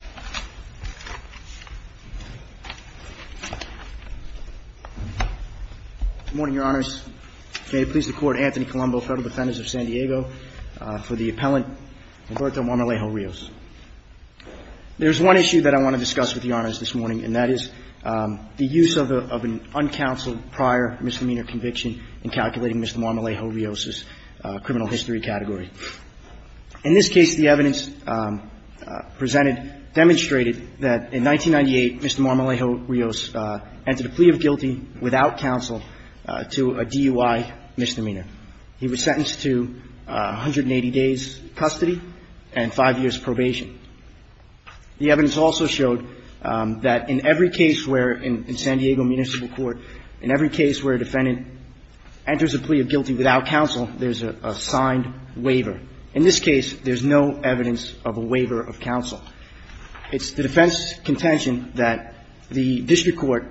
Good morning, Your Honors. May it please the Court, Anthony Colombo, Federal Defendant of San Diego for the appellant Humberto Marmolejo-Rios. There is one issue that I want to discuss with the Honors this morning, and that is the use of an uncounseled prior misdemeanor conviction in calculating Mr. Marmolejo-Rios' criminal history category. In this case, the defendant demonstrated that, in 1998, Mr. Marmolejo-Rios entered a plea of guilty without counsel to a DUI misdemeanor. He was sentenced to 180 days' custody and five years' probation. The evidence also showed that in every case where, in San Diego Municipal Court, in every case where a defendant enters a plea of guilty without counsel, there's a signed waiver. In this case, there's no evidence of a waiver of counsel. It's the defense's contention that the district court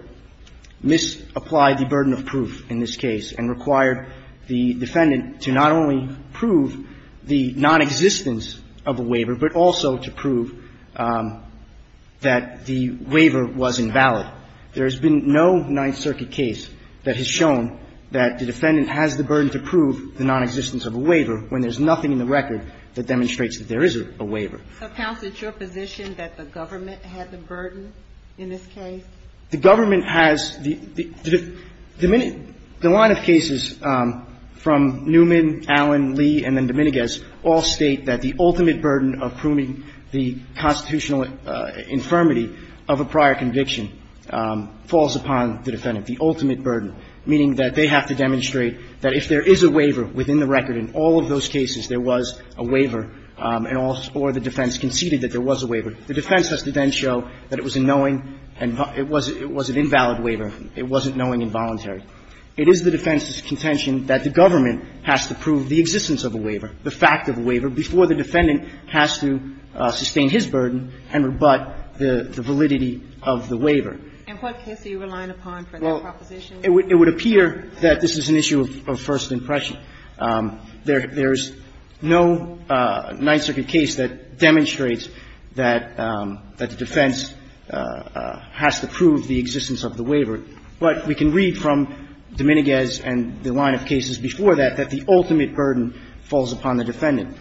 misapplied the burden of proof in this case and required the defendant to not only prove the nonexistence of a waiver, but also to prove that the waiver was invalid. There has been no Ninth Circuit case that has shown that the defendant has the burden to prove the nonexistence of a waiver when there's a waiver in the record that demonstrates that there is a waiver. So, counsel, it's your position that the government had the burden in this case? The government has the – the line of cases from Newman, Allen, Lee, and then Dominguez all state that the ultimate burden of proving the constitutional infirmity of a prior conviction falls upon the defendant, the ultimate burden, meaning that they have to demonstrate that if there is a waiver within the record, in all of those cases, there was a waiver, and all – or the defense conceded that there was a waiver. The defense has to then show that it was a knowing and – it was an invalid waiver. It wasn't knowing involuntary. It is the defense's contention that the government has to prove the existence of a waiver, the fact of a waiver, before the defendant has to sustain his burden and rebut the validity of the waiver. And what case are you relying upon for that proposition? It would appear that this is an issue of first impression. There's no Ninth Circuit case that demonstrates that the defense has to prove the existence of the waiver, but we can read from Dominguez and the line of cases before that, that the ultimate burden falls upon the defendant.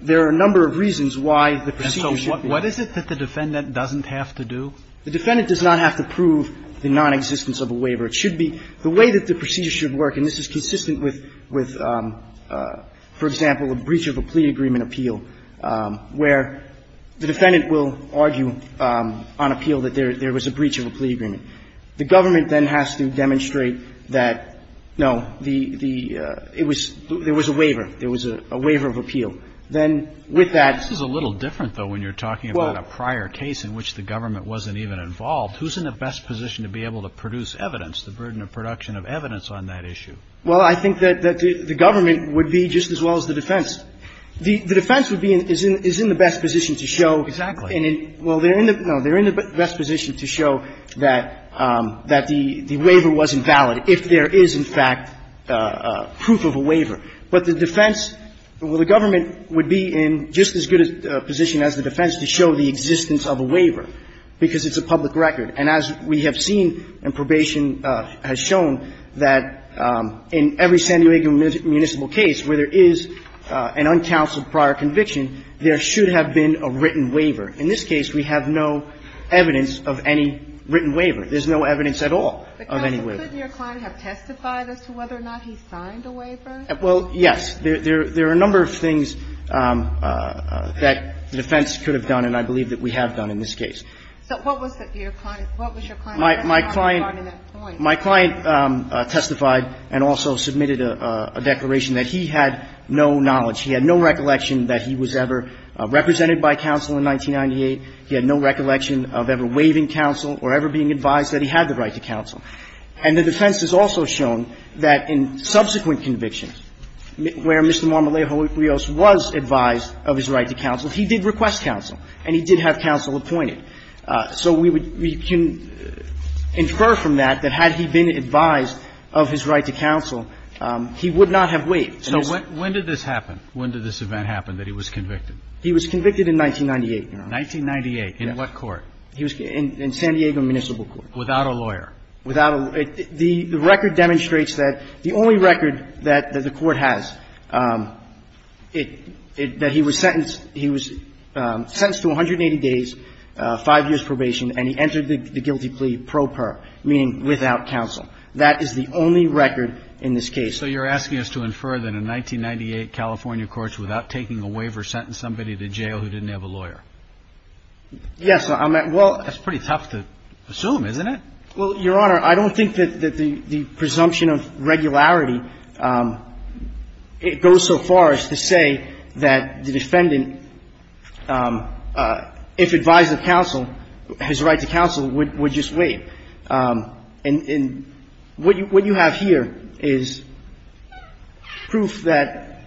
There are a number of reasons why the procedure should be – And so what is it that the defendant doesn't have to do? The defendant does not have to prove the nonexistence of a waiver. It should be – the way that the procedure should work, and this is consistent with, for example, a breach of a plea agreement appeal, where the defendant will argue on appeal that there was a breach of a plea agreement. The government then has to demonstrate that, no, the – it was – there was a waiver. There was a waiver of appeal. Then with that – This is a little different, though, when you're talking about a prior case in which the government wasn't even involved. Who's in the best position to be able to produce evidence, the burden of production of evidence on that issue? Well, I think that the government would be just as well as the defense. The defense would be – is in the best position to show – Exactly. Well, they're in the – no, they're in the best position to show that the waiver wasn't valid if there is, in fact, proof of a waiver. But the defense – well, the government would be in just as good a position as the defense to show the existence of a waiver because it's a public record. And as we have seen, and probation has shown, that in every San Diego municipal case where there is an uncounseled prior conviction, there should have been a written waiver. In this case, we have no evidence of any written waiver. There's no evidence at all of any waiver. But, counsel, couldn't your client have testified as to whether or not he signed a waiver? Well, yes. There are a number of things that the defense could have done, and I believe that we have done in this case. So what was your client's testimony regarding that point? My client testified and also submitted a declaration that he had no knowledge. He had no recollection that he was ever represented by counsel in 1998. He had no recollection of ever waiving counsel or ever being advised that he had the right to counsel. And the defense has also shown that in subsequent convictions where Mr. Marmolejo Rios was advised of his right to counsel, he did request counsel, and he did have counsel appointed. So we would – we can infer from that that had he been advised of his right to counsel, he would not have waived. So when did this happen? When did this event happen that he was convicted? He was convicted in 1998, Your Honor. 1998 in what court? In San Diego Municipal Court. Without a lawyer? Without a – the record demonstrates that the only record that the court has, that he was sentenced – he was sentenced to 180 days, five years probation, and he entered the guilty plea pro per, meaning without counsel. That is the only record in this case. So you're asking us to infer that in 1998, California courts, without taking a waiver, sentenced somebody to jail who didn't have a lawyer? Yes, I'm – well – That's pretty tough to assume, isn't it? Well, Your Honor, I don't think that the presumption of regularity goes so far as to say that the defendant, if advised of counsel, his right to counsel, would just wait. And what you have here is proof that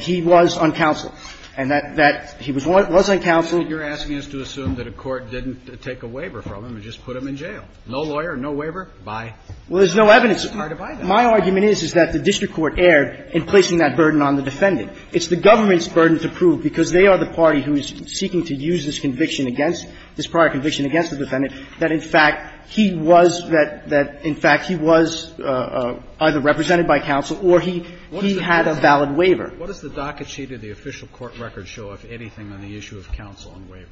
he was on counsel and that he was on counsel. You're asking us to assume that a court didn't take a waiver from him and just put him in jail. No lawyer, no waiver, bye. Well, there's no evidence of that. It's hard to buy that. My argument is, is that the district court erred in placing that burden on the defendant. It's the government's burden to prove, because they are the party who is seeking to use this conviction against – this prior conviction against the defendant that, in fact, he was – that, in fact, he was either represented by counsel or he – he had a valid waiver. What does the docket sheet of the official court record show of anything on the issue of counsel and waiver?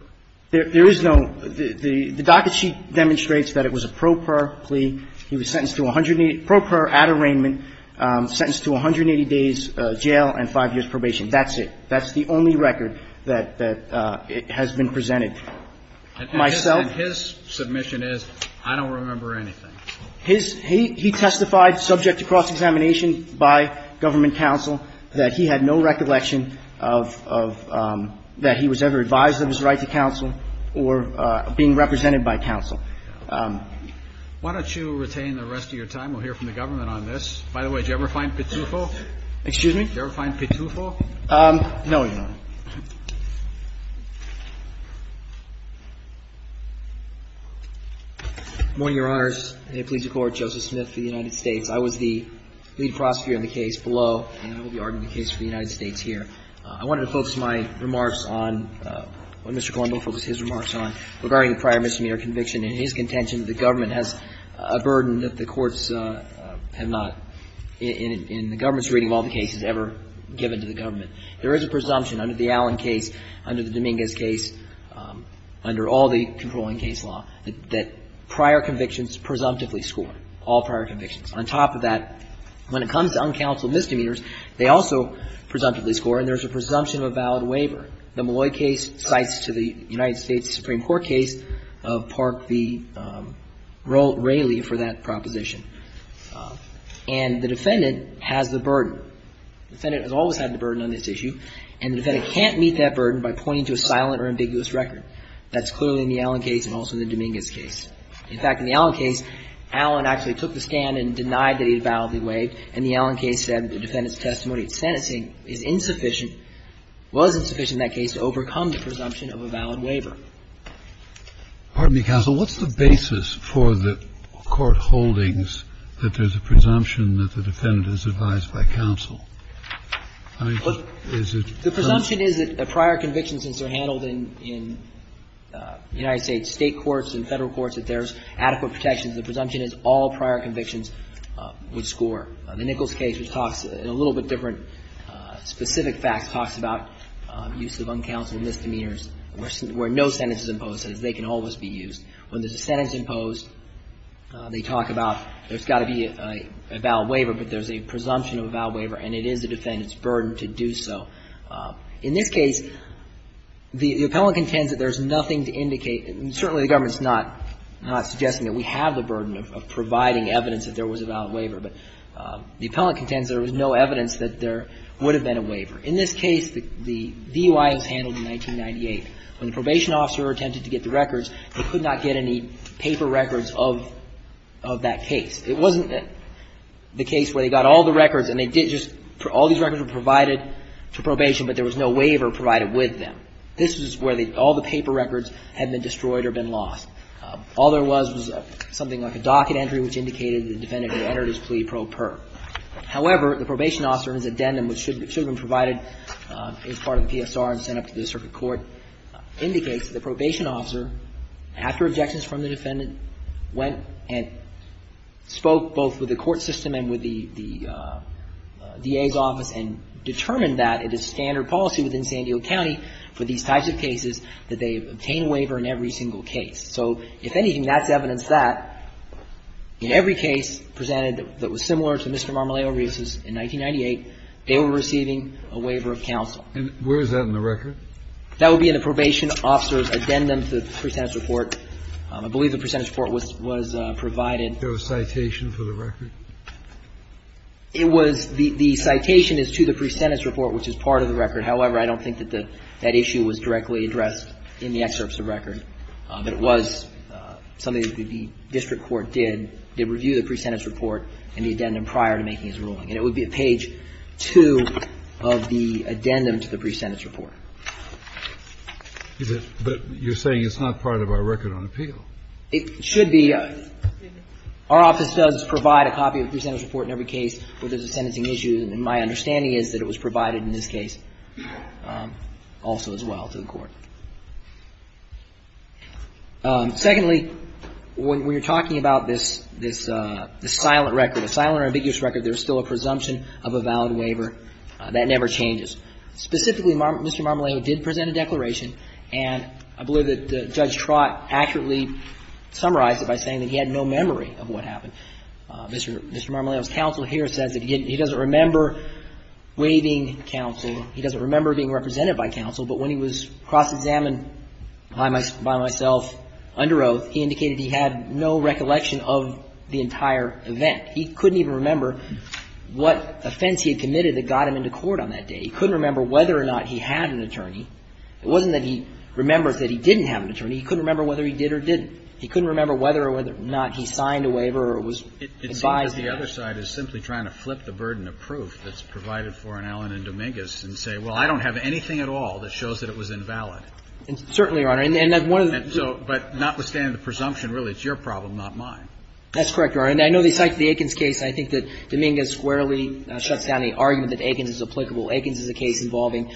There is no – the docket sheet demonstrates that it was a pro per plea. He was sentenced to 180 – pro per at arraignment, sentenced to 180 days jail and 5 years probation. That's it. That's the only record that – that has been presented. Myself – And his – and his submission is, I don't remember anything. His – he testified subject to cross-examination by government counsel that he had no recollection of – of – that he was ever advised of his right to counsel or being represented by counsel. Why don't you retain the rest of your time? We'll hear from the government on this. By the way, did you ever find Pitufo? Excuse me? Did you ever find Pitufo? No, Your Honor. Good morning, Your Honors. May it please the Court. Joseph Smith for the United States. I was the lead prosecutor in the case below, and I will be arguing the case for the United States here. I wanted to focus my remarks on – Mr. Colombo, focus his remarks on regarding in the government's reading of all the cases ever given to the government. There is a presumption under the Allen case, under the Dominguez case, under all the controlling case law, that prior convictions presumptively score, all prior convictions. On top of that, when it comes to uncounseled misdemeanors, they also presumptively score, and there's a presumption of a valid waiver. The Molloy case cites to the United States Supreme Court case of Park v. Raley for that proposition. And the defendant has the burden. The defendant has always had the burden on this issue, and the defendant can't meet that burden by pointing to a silent or ambiguous record. That's clearly in the Allen case and also in the Dominguez case. In fact, in the Allen case, Allen actually took the stand and denied that he had validly waived, and the Allen case said the defendant's testimony at sentencing is insufficient – was insufficient in that case to overcome the presumption of a valid waiver. Kennedy. Pardon me, counsel. What's the basis for the court holdings that there's a presumption that the defendant is advised by counsel? I mean, is it? The presumption is that prior convictions, as they're handled in the United States State courts and Federal courts, that there's adequate protections. The presumption is all prior convictions would score. The Nichols case, which talks in a little bit different specific facts, talks about use of uncounseled misdemeanors where no sentence is imposed. That is, they can always be used. When there's a sentence imposed, they talk about there's got to be a valid waiver, but there's a presumption of a valid waiver, and it is the defendant's burden to do so. In this case, the appellant contends that there's nothing to indicate – and certainly the government's not suggesting that we have the burden of providing evidence that there was a valid waiver, but the appellant contends there was no evidence that there would have been a waiver. In this case, the DUI was handled in 1998. When the probation officer attempted to get the records, they could not get any paper records of that case. It wasn't the case where they got all the records and they did just – all these records were provided to probation, but there was no waiver provided with them. This is where all the paper records had been destroyed or been lost. All there was was something like a docket entry, which indicated the defendant had entered his plea pro per. However, the probation officer's addendum, which should have been provided as part of the PSR and sent up to the circuit court, indicates that the probation officer, after objections from the defendant, went and spoke both with the court system and with the DA's office and determined that it is standard policy within San Diego County for these types of cases that they obtain a waiver in every single case. So if anything, that's evidence that in every case presented that was similar to Mr. Marmoleo Reese's in 1998, they were receiving a waiver of counsel. And where is that in the record? That would be in the probation officer's addendum to the pre-sentence report. I believe the pre-sentence report was provided. Was there a citation for the record? It was – the citation is to the pre-sentence report, which is part of the record. However, I don't think that that issue was directly addressed in the excerpts of the record. It was something that the district court did, did review the pre-sentence report and the addendum prior to making his ruling. And it would be at page 2 of the addendum to the pre-sentence report. But you're saying it's not part of our record on appeal. It should be. Our office does provide a copy of the pre-sentence report in every case where there's a sentencing issue, and my understanding is that it was provided in this case also as well to the court. Secondly, when you're talking about this silent record, a silent or ambiguous record, there's still a presumption of a valid waiver. That never changes. Specifically, Mr. Marmolejo did present a declaration, and I believe that Judge Trott accurately summarized it by saying that he had no memory of what happened. Mr. Marmolejo's counsel here says that he doesn't remember waiving counsel. He doesn't remember being represented by counsel. But when he was cross-examined by myself under oath, he indicated he had no recollection of the entire event. He couldn't even remember what offense he had committed that got him into court on that day. He couldn't remember whether or not he had an attorney. It wasn't that he remembers that he didn't have an attorney. He couldn't remember whether he did or didn't. He couldn't remember whether or not he signed a waiver or was advised how to. It seems that the other side is simply trying to flip the burden of proof that's And certainly, Your Honor. But notwithstanding the presumption, really, it's your problem, not mine. That's correct, Your Honor. And I know the site of the Aikens case, I think that Dominguez squarely shuts down the argument that Aikens is applicable. Aikens is a case involving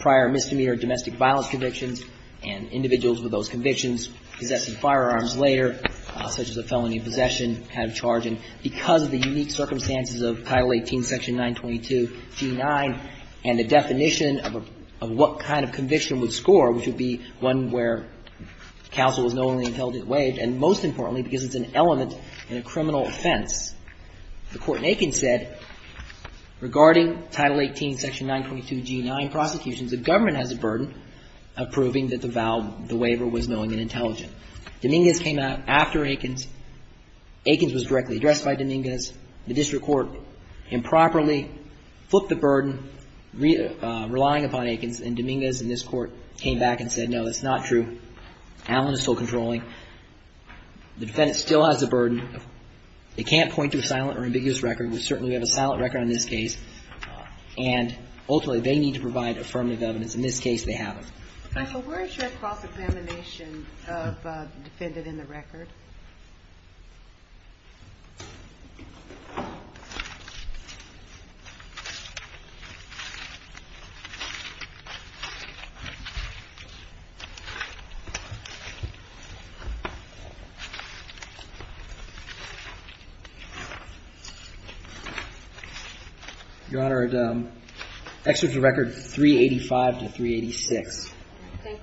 prior misdemeanor domestic violence convictions and individuals with those convictions possessing firearms later, such as a felony of possession, kind of charge. And because of the unique circumstances of Title 18, Section 922, G9, and the definition of what kind of conviction would score, which would be one where counsel was knowingly and intelligently waived, and most importantly, because it's an element in a criminal offense, the Court in Aikens said, regarding Title 18, Section 922, G9 prosecutions, the government has a burden of proving that the waiver was knowing and intelligent. Dominguez came out after Aikens. Aikens was directly addressed by Dominguez. The district court improperly flipped the burden relying upon Aikens, and Dominguez and this Court came back and said, no, that's not true. Allen is still controlling. The defendant still has a burden. They can't point to a silent or ambiguous record. We certainly have a silent record on this case. And ultimately, they need to provide affirmative evidence. In this case, they haven't. Counsel, where is your cross-examination of the defendant in the record? Your Honor, it excerpts the record 385 to 386. Okay.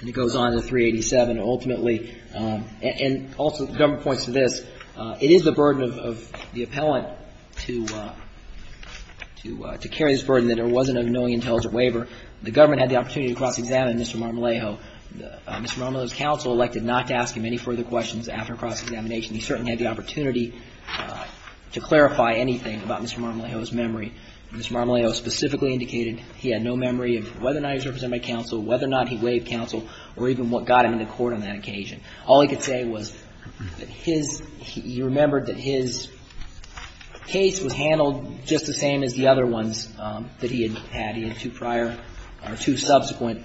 And it goes on to 387. Ultimately, and also the government points to this, it is the burden of the appellant to carry this burden that there wasn't a knowing, intelligent waiver. The government had the opportunity to cross-examine Mr. Marmolejo. Mr. Marmolejo's counsel elected not to ask him any further questions after cross-examination. He certainly had the opportunity to clarify anything about Mr. Marmolejo's memory. Mr. Marmolejo specifically indicated he had no memory of whether or not he was represented by counsel, whether or not he waived counsel, or even what got him into court on that occasion. All he could say was that his – he remembered that his case was handled just the same as the other ones that he had had. And he had two prior or two subsequent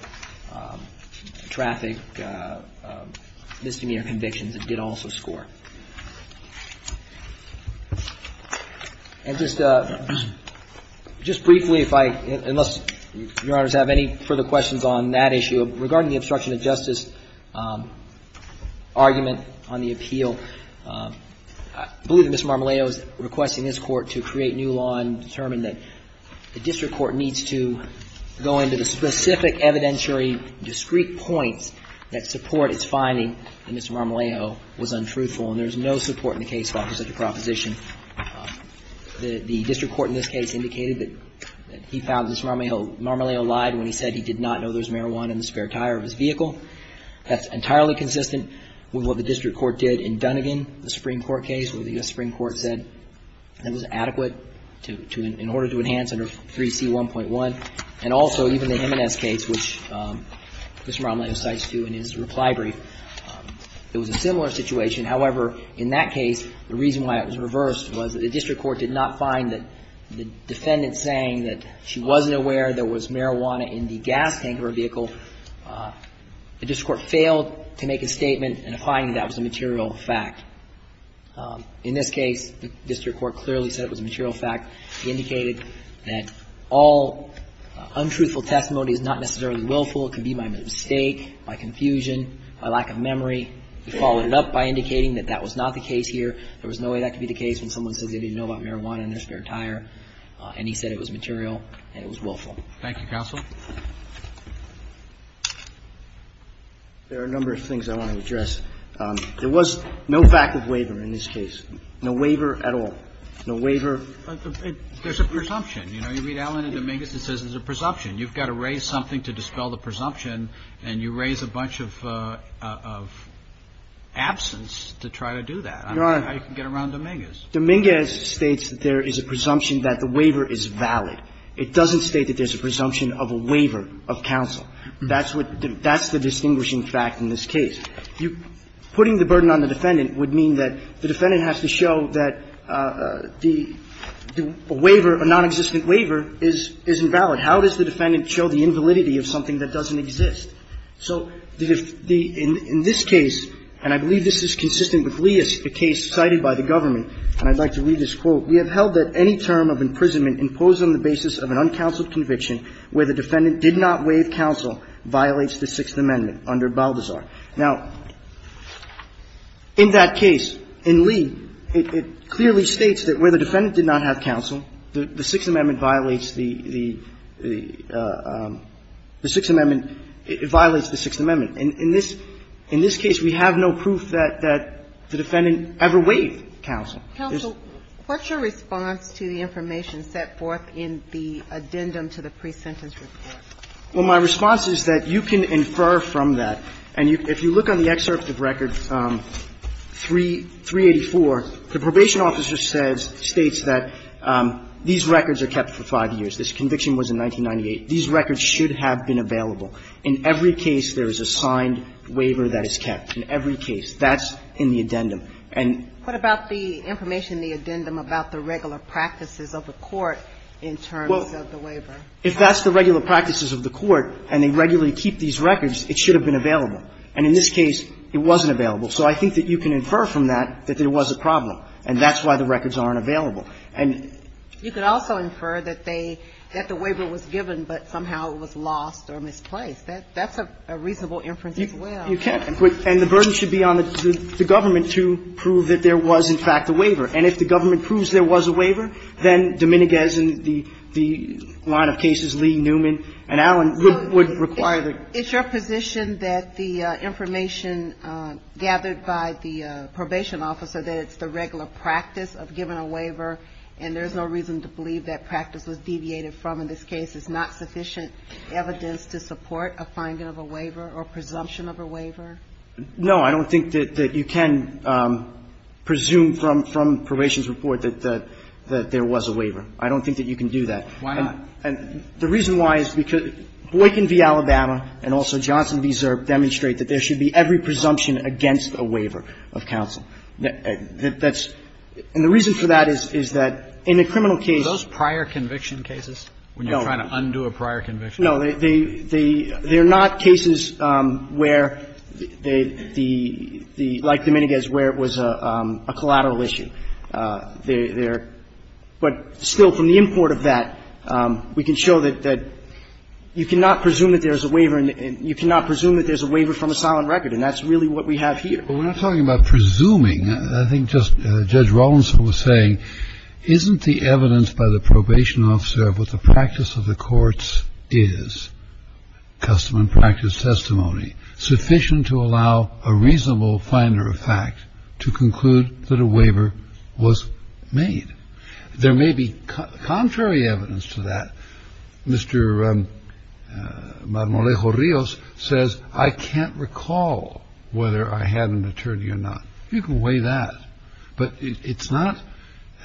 traffic misdemeanor convictions that did also score. And just – just briefly, if I – unless Your Honors have any further questions on that issue, regarding the obstruction of justice argument on the appeal, I believe that Mr. Marmolejo is requesting this Court to create new law and determine that the district court needs to go into the specific evidentiary discrete points that support its finding that Mr. Marmolejo was untruthful. And there's no support in the case file for such a proposition. The district court in this case indicated that he found Mr. Marmolejo lied when he said he did not know there was marijuana in the spare tire of his vehicle. That's entirely consistent with what the district court did in Dunnegan, the Supreme Court said that was adequate to – in order to enhance under 3C1.1. And also, even the M&S case, which Mr. Marmolejo cites, too, in his reply brief, it was a similar situation. However, in that case, the reason why it was reversed was that the district court did not find that the defendant saying that she wasn't aware there was marijuana in the gas tank of her vehicle, the district court failed to make a statement in a finding that was a material fact. In this case, the district court clearly said it was a material fact. He indicated that all untruthful testimony is not necessarily willful. It can be by mistake, by confusion, by lack of memory. He followed it up by indicating that that was not the case here. There was no way that could be the case when someone says they didn't know about marijuana in their spare tire. And he said it was material and it was willful. Thank you, counsel. There are a number of things I want to address. There was no fact of waiver in this case. No waiver at all. No waiver. There's a presumption. You know, you read Allen and Dominguez, it says there's a presumption. You've got to raise something to dispel the presumption, and you raise a bunch of absence to try to do that. I don't know how you can get around Dominguez. Dominguez states that there is a presumption that the waiver is valid. It doesn't state that there's a presumption of a waiver of counsel. That's what the – that's the distinguishing fact in this case. You – putting the burden on the defendant would mean that the defendant has to show that the waiver, a nonexistent waiver, is invalid. How does the defendant show the invalidity of something that doesn't exist? So the – in this case, and I believe this is consistent with Leah's case cited by the government, and I'd like to read this quote. We have held that any term of imprisonment imposed on the basis of an uncounseled conviction where the defendant did not waive counsel violates the Sixth Amendment under Balduzar. Now, in that case, in Lee, it clearly states that where the defendant did not have counsel, the Sixth Amendment violates the – the Sixth Amendment – it violates the Sixth Amendment. In this – in this case, we have no proof that the defendant ever waived counsel. Counsel, what's your response to the information set forth in the addendum to the pre-sentence report? Well, my response is that you can infer from that. And you – if you look on the excerpt of record 384, the probation officer says – states that these records are kept for five years. This conviction was in 1998. These records should have been available. In every case, there is a signed waiver that is kept. In every case. That's in the addendum. And – What about the information in the addendum about the regular practices of the court in terms of the waiver? If that's the regular practices of the court, and they regularly keep these records, it should have been available. And in this case, it wasn't available. So I think that you can infer from that that there was a problem. And that's why the records aren't available. And you could also infer that they – that the waiver was given, but somehow it was lost or misplaced. That's a reasonable inference as well. You can. And if the government proves there was a waiver, then Dominguez and the line of cases, Lee, Newman, and Allen would require the – So it's your position that the information gathered by the probation officer, that it's the regular practice of giving a waiver, and there's no reason to believe that practice was deviated from in this case, is not sufficient evidence to support No. I don't think that you can presume from probation's report that there was a waiver. I don't think that you can do that. Why not? And the reason why is because Boykin v. Alabama and also Johnson v. Zerb demonstrate that there should be every presumption against a waiver of counsel. That's – and the reason for that is that in a criminal case – Are those prior conviction cases, when you're trying to undo a prior conviction? No. They're not cases where the – like Dominguez, where it was a collateral issue. They're – but still, from the import of that, we can show that you cannot presume that there's a waiver and you cannot presume that there's a waiver from a silent record. And that's really what we have here. But we're not talking about presuming. I think just Judge Rollins was saying, isn't the evidence by the probation officer of what the practice of the courts is, custom and practice testimony, sufficient to allow a reasonable finder of fact to conclude that a waiver was made? There may be contrary evidence to that. Mr. Marmolejo-Rios says, I can't recall whether I had an attorney or not. You can weigh that. But it's not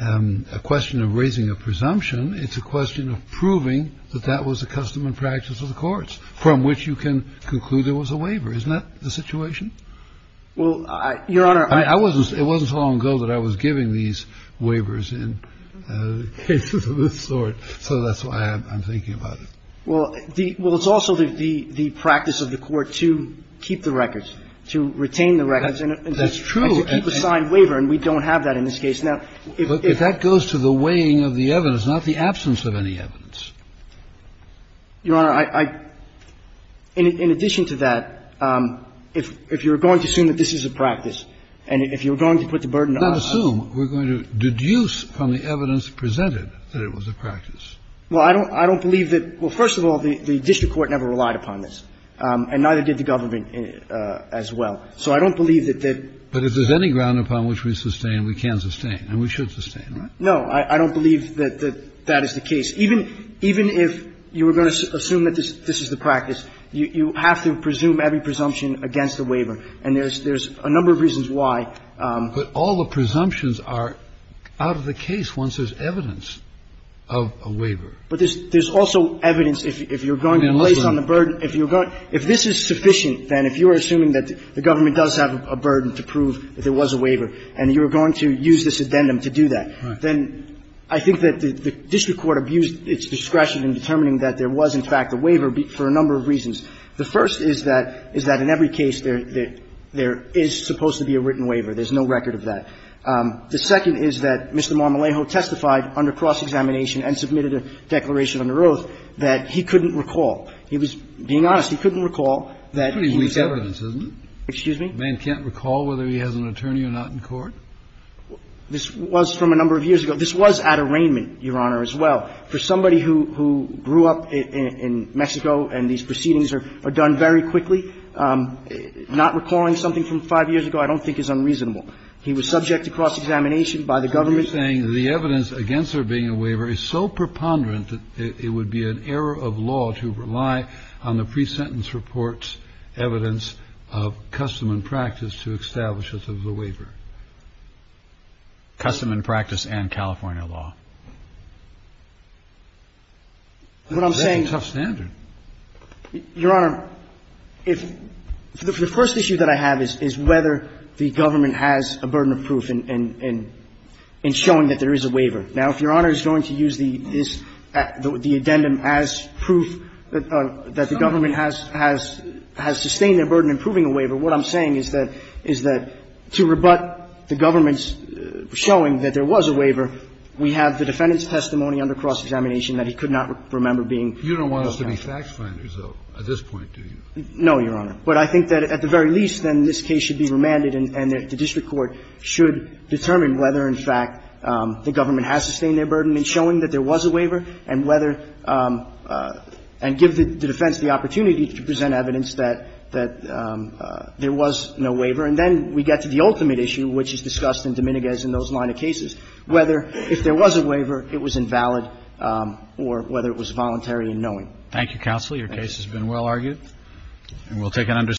a question of raising a presumption. It's a question of proving that that was a custom and practice of the courts, from which you can conclude there was a waiver. Isn't that the situation? Well, Your Honor, I – I wasn't – it wasn't so long ago that I was giving these waivers in cases of this sort. So that's why I'm thinking about it. Well, the – well, it's also the practice of the court to keep the records, to retain the records. That's true. And to keep a signed waiver. And we don't have that in this case. Now, if – But if that goes to the weighing of the evidence, not the absence of any evidence. Your Honor, I – in addition to that, if you're going to assume that this is a practice and if you're going to put the burden on us – Let's assume. We're going to deduce from the evidence presented that it was a practice. Well, I don't – I don't believe that – well, first of all, the district court never relied upon this. And neither did the government as well. So I don't believe that that – But if there's any ground upon which we sustain, we can sustain and we should sustain. No, I don't believe that that is the case. Even if you were going to assume that this is the practice, you have to presume every presumption against the waiver. And there's a number of reasons why. But all the presumptions are out of the case once there's evidence of a waiver. But there's also evidence if you're going to place on the burden – if you're going – if this is sufficient, then if you are assuming that the government does have a burden to prove that there was a waiver and you are going to use this addendum to do that, then I think that the district court abused its discretion in determining that there was, in fact, a waiver for a number of reasons. The first is that – is that in every case there is supposed to be a written waiver. There's no record of that. The second is that Mr. Marmolejo testified under cross-examination and submitted a declaration under oath that he couldn't recall. He was being honest. He couldn't recall that he was ever – Kennedy. Pretty weak evidence, isn't it? Excuse me? A man can't recall whether he has an attorney or not in court? This was from a number of years ago. This was at arraignment, Your Honor, as well. For somebody who grew up in Mexico and these proceedings are done very quickly, not recalling something from five years ago I don't think is unreasonable. He was subject to cross-examination by the government. The evidence against there being a waiver is so preponderant that it would be an error of law to rely on the pre-sentence report's evidence of custom and practice to establish that there was a waiver. Custom and practice and California law. That's a tough standard. Your Honor, if – the first issue that I have is whether the government has a burden of proof in showing that there is a waiver. Now, if Your Honor is going to use this – the addendum as proof that the government has sustained a burden in proving a waiver, what I'm saying is that to rebut the government's showing that there was a waiver, we have the defendant's testimony under cross-examination that he could not remember being – You don't want us to be fact-finders, though, at this point, do you? No, Your Honor. But I think that at the very least, then, this case should be remanded and the district court should determine whether, in fact, the government has sustained a burden in showing that there was a waiver and whether – and give the defense the opportunity to present evidence that there was no waiver. And then we get to the ultimate issue, which is discussed in Dominguez and those line of cases, whether, if there was a waiver, it was invalid or whether it was voluntary in knowing. Thank you, counsel. Your case has been well argued. And we'll take an understanding.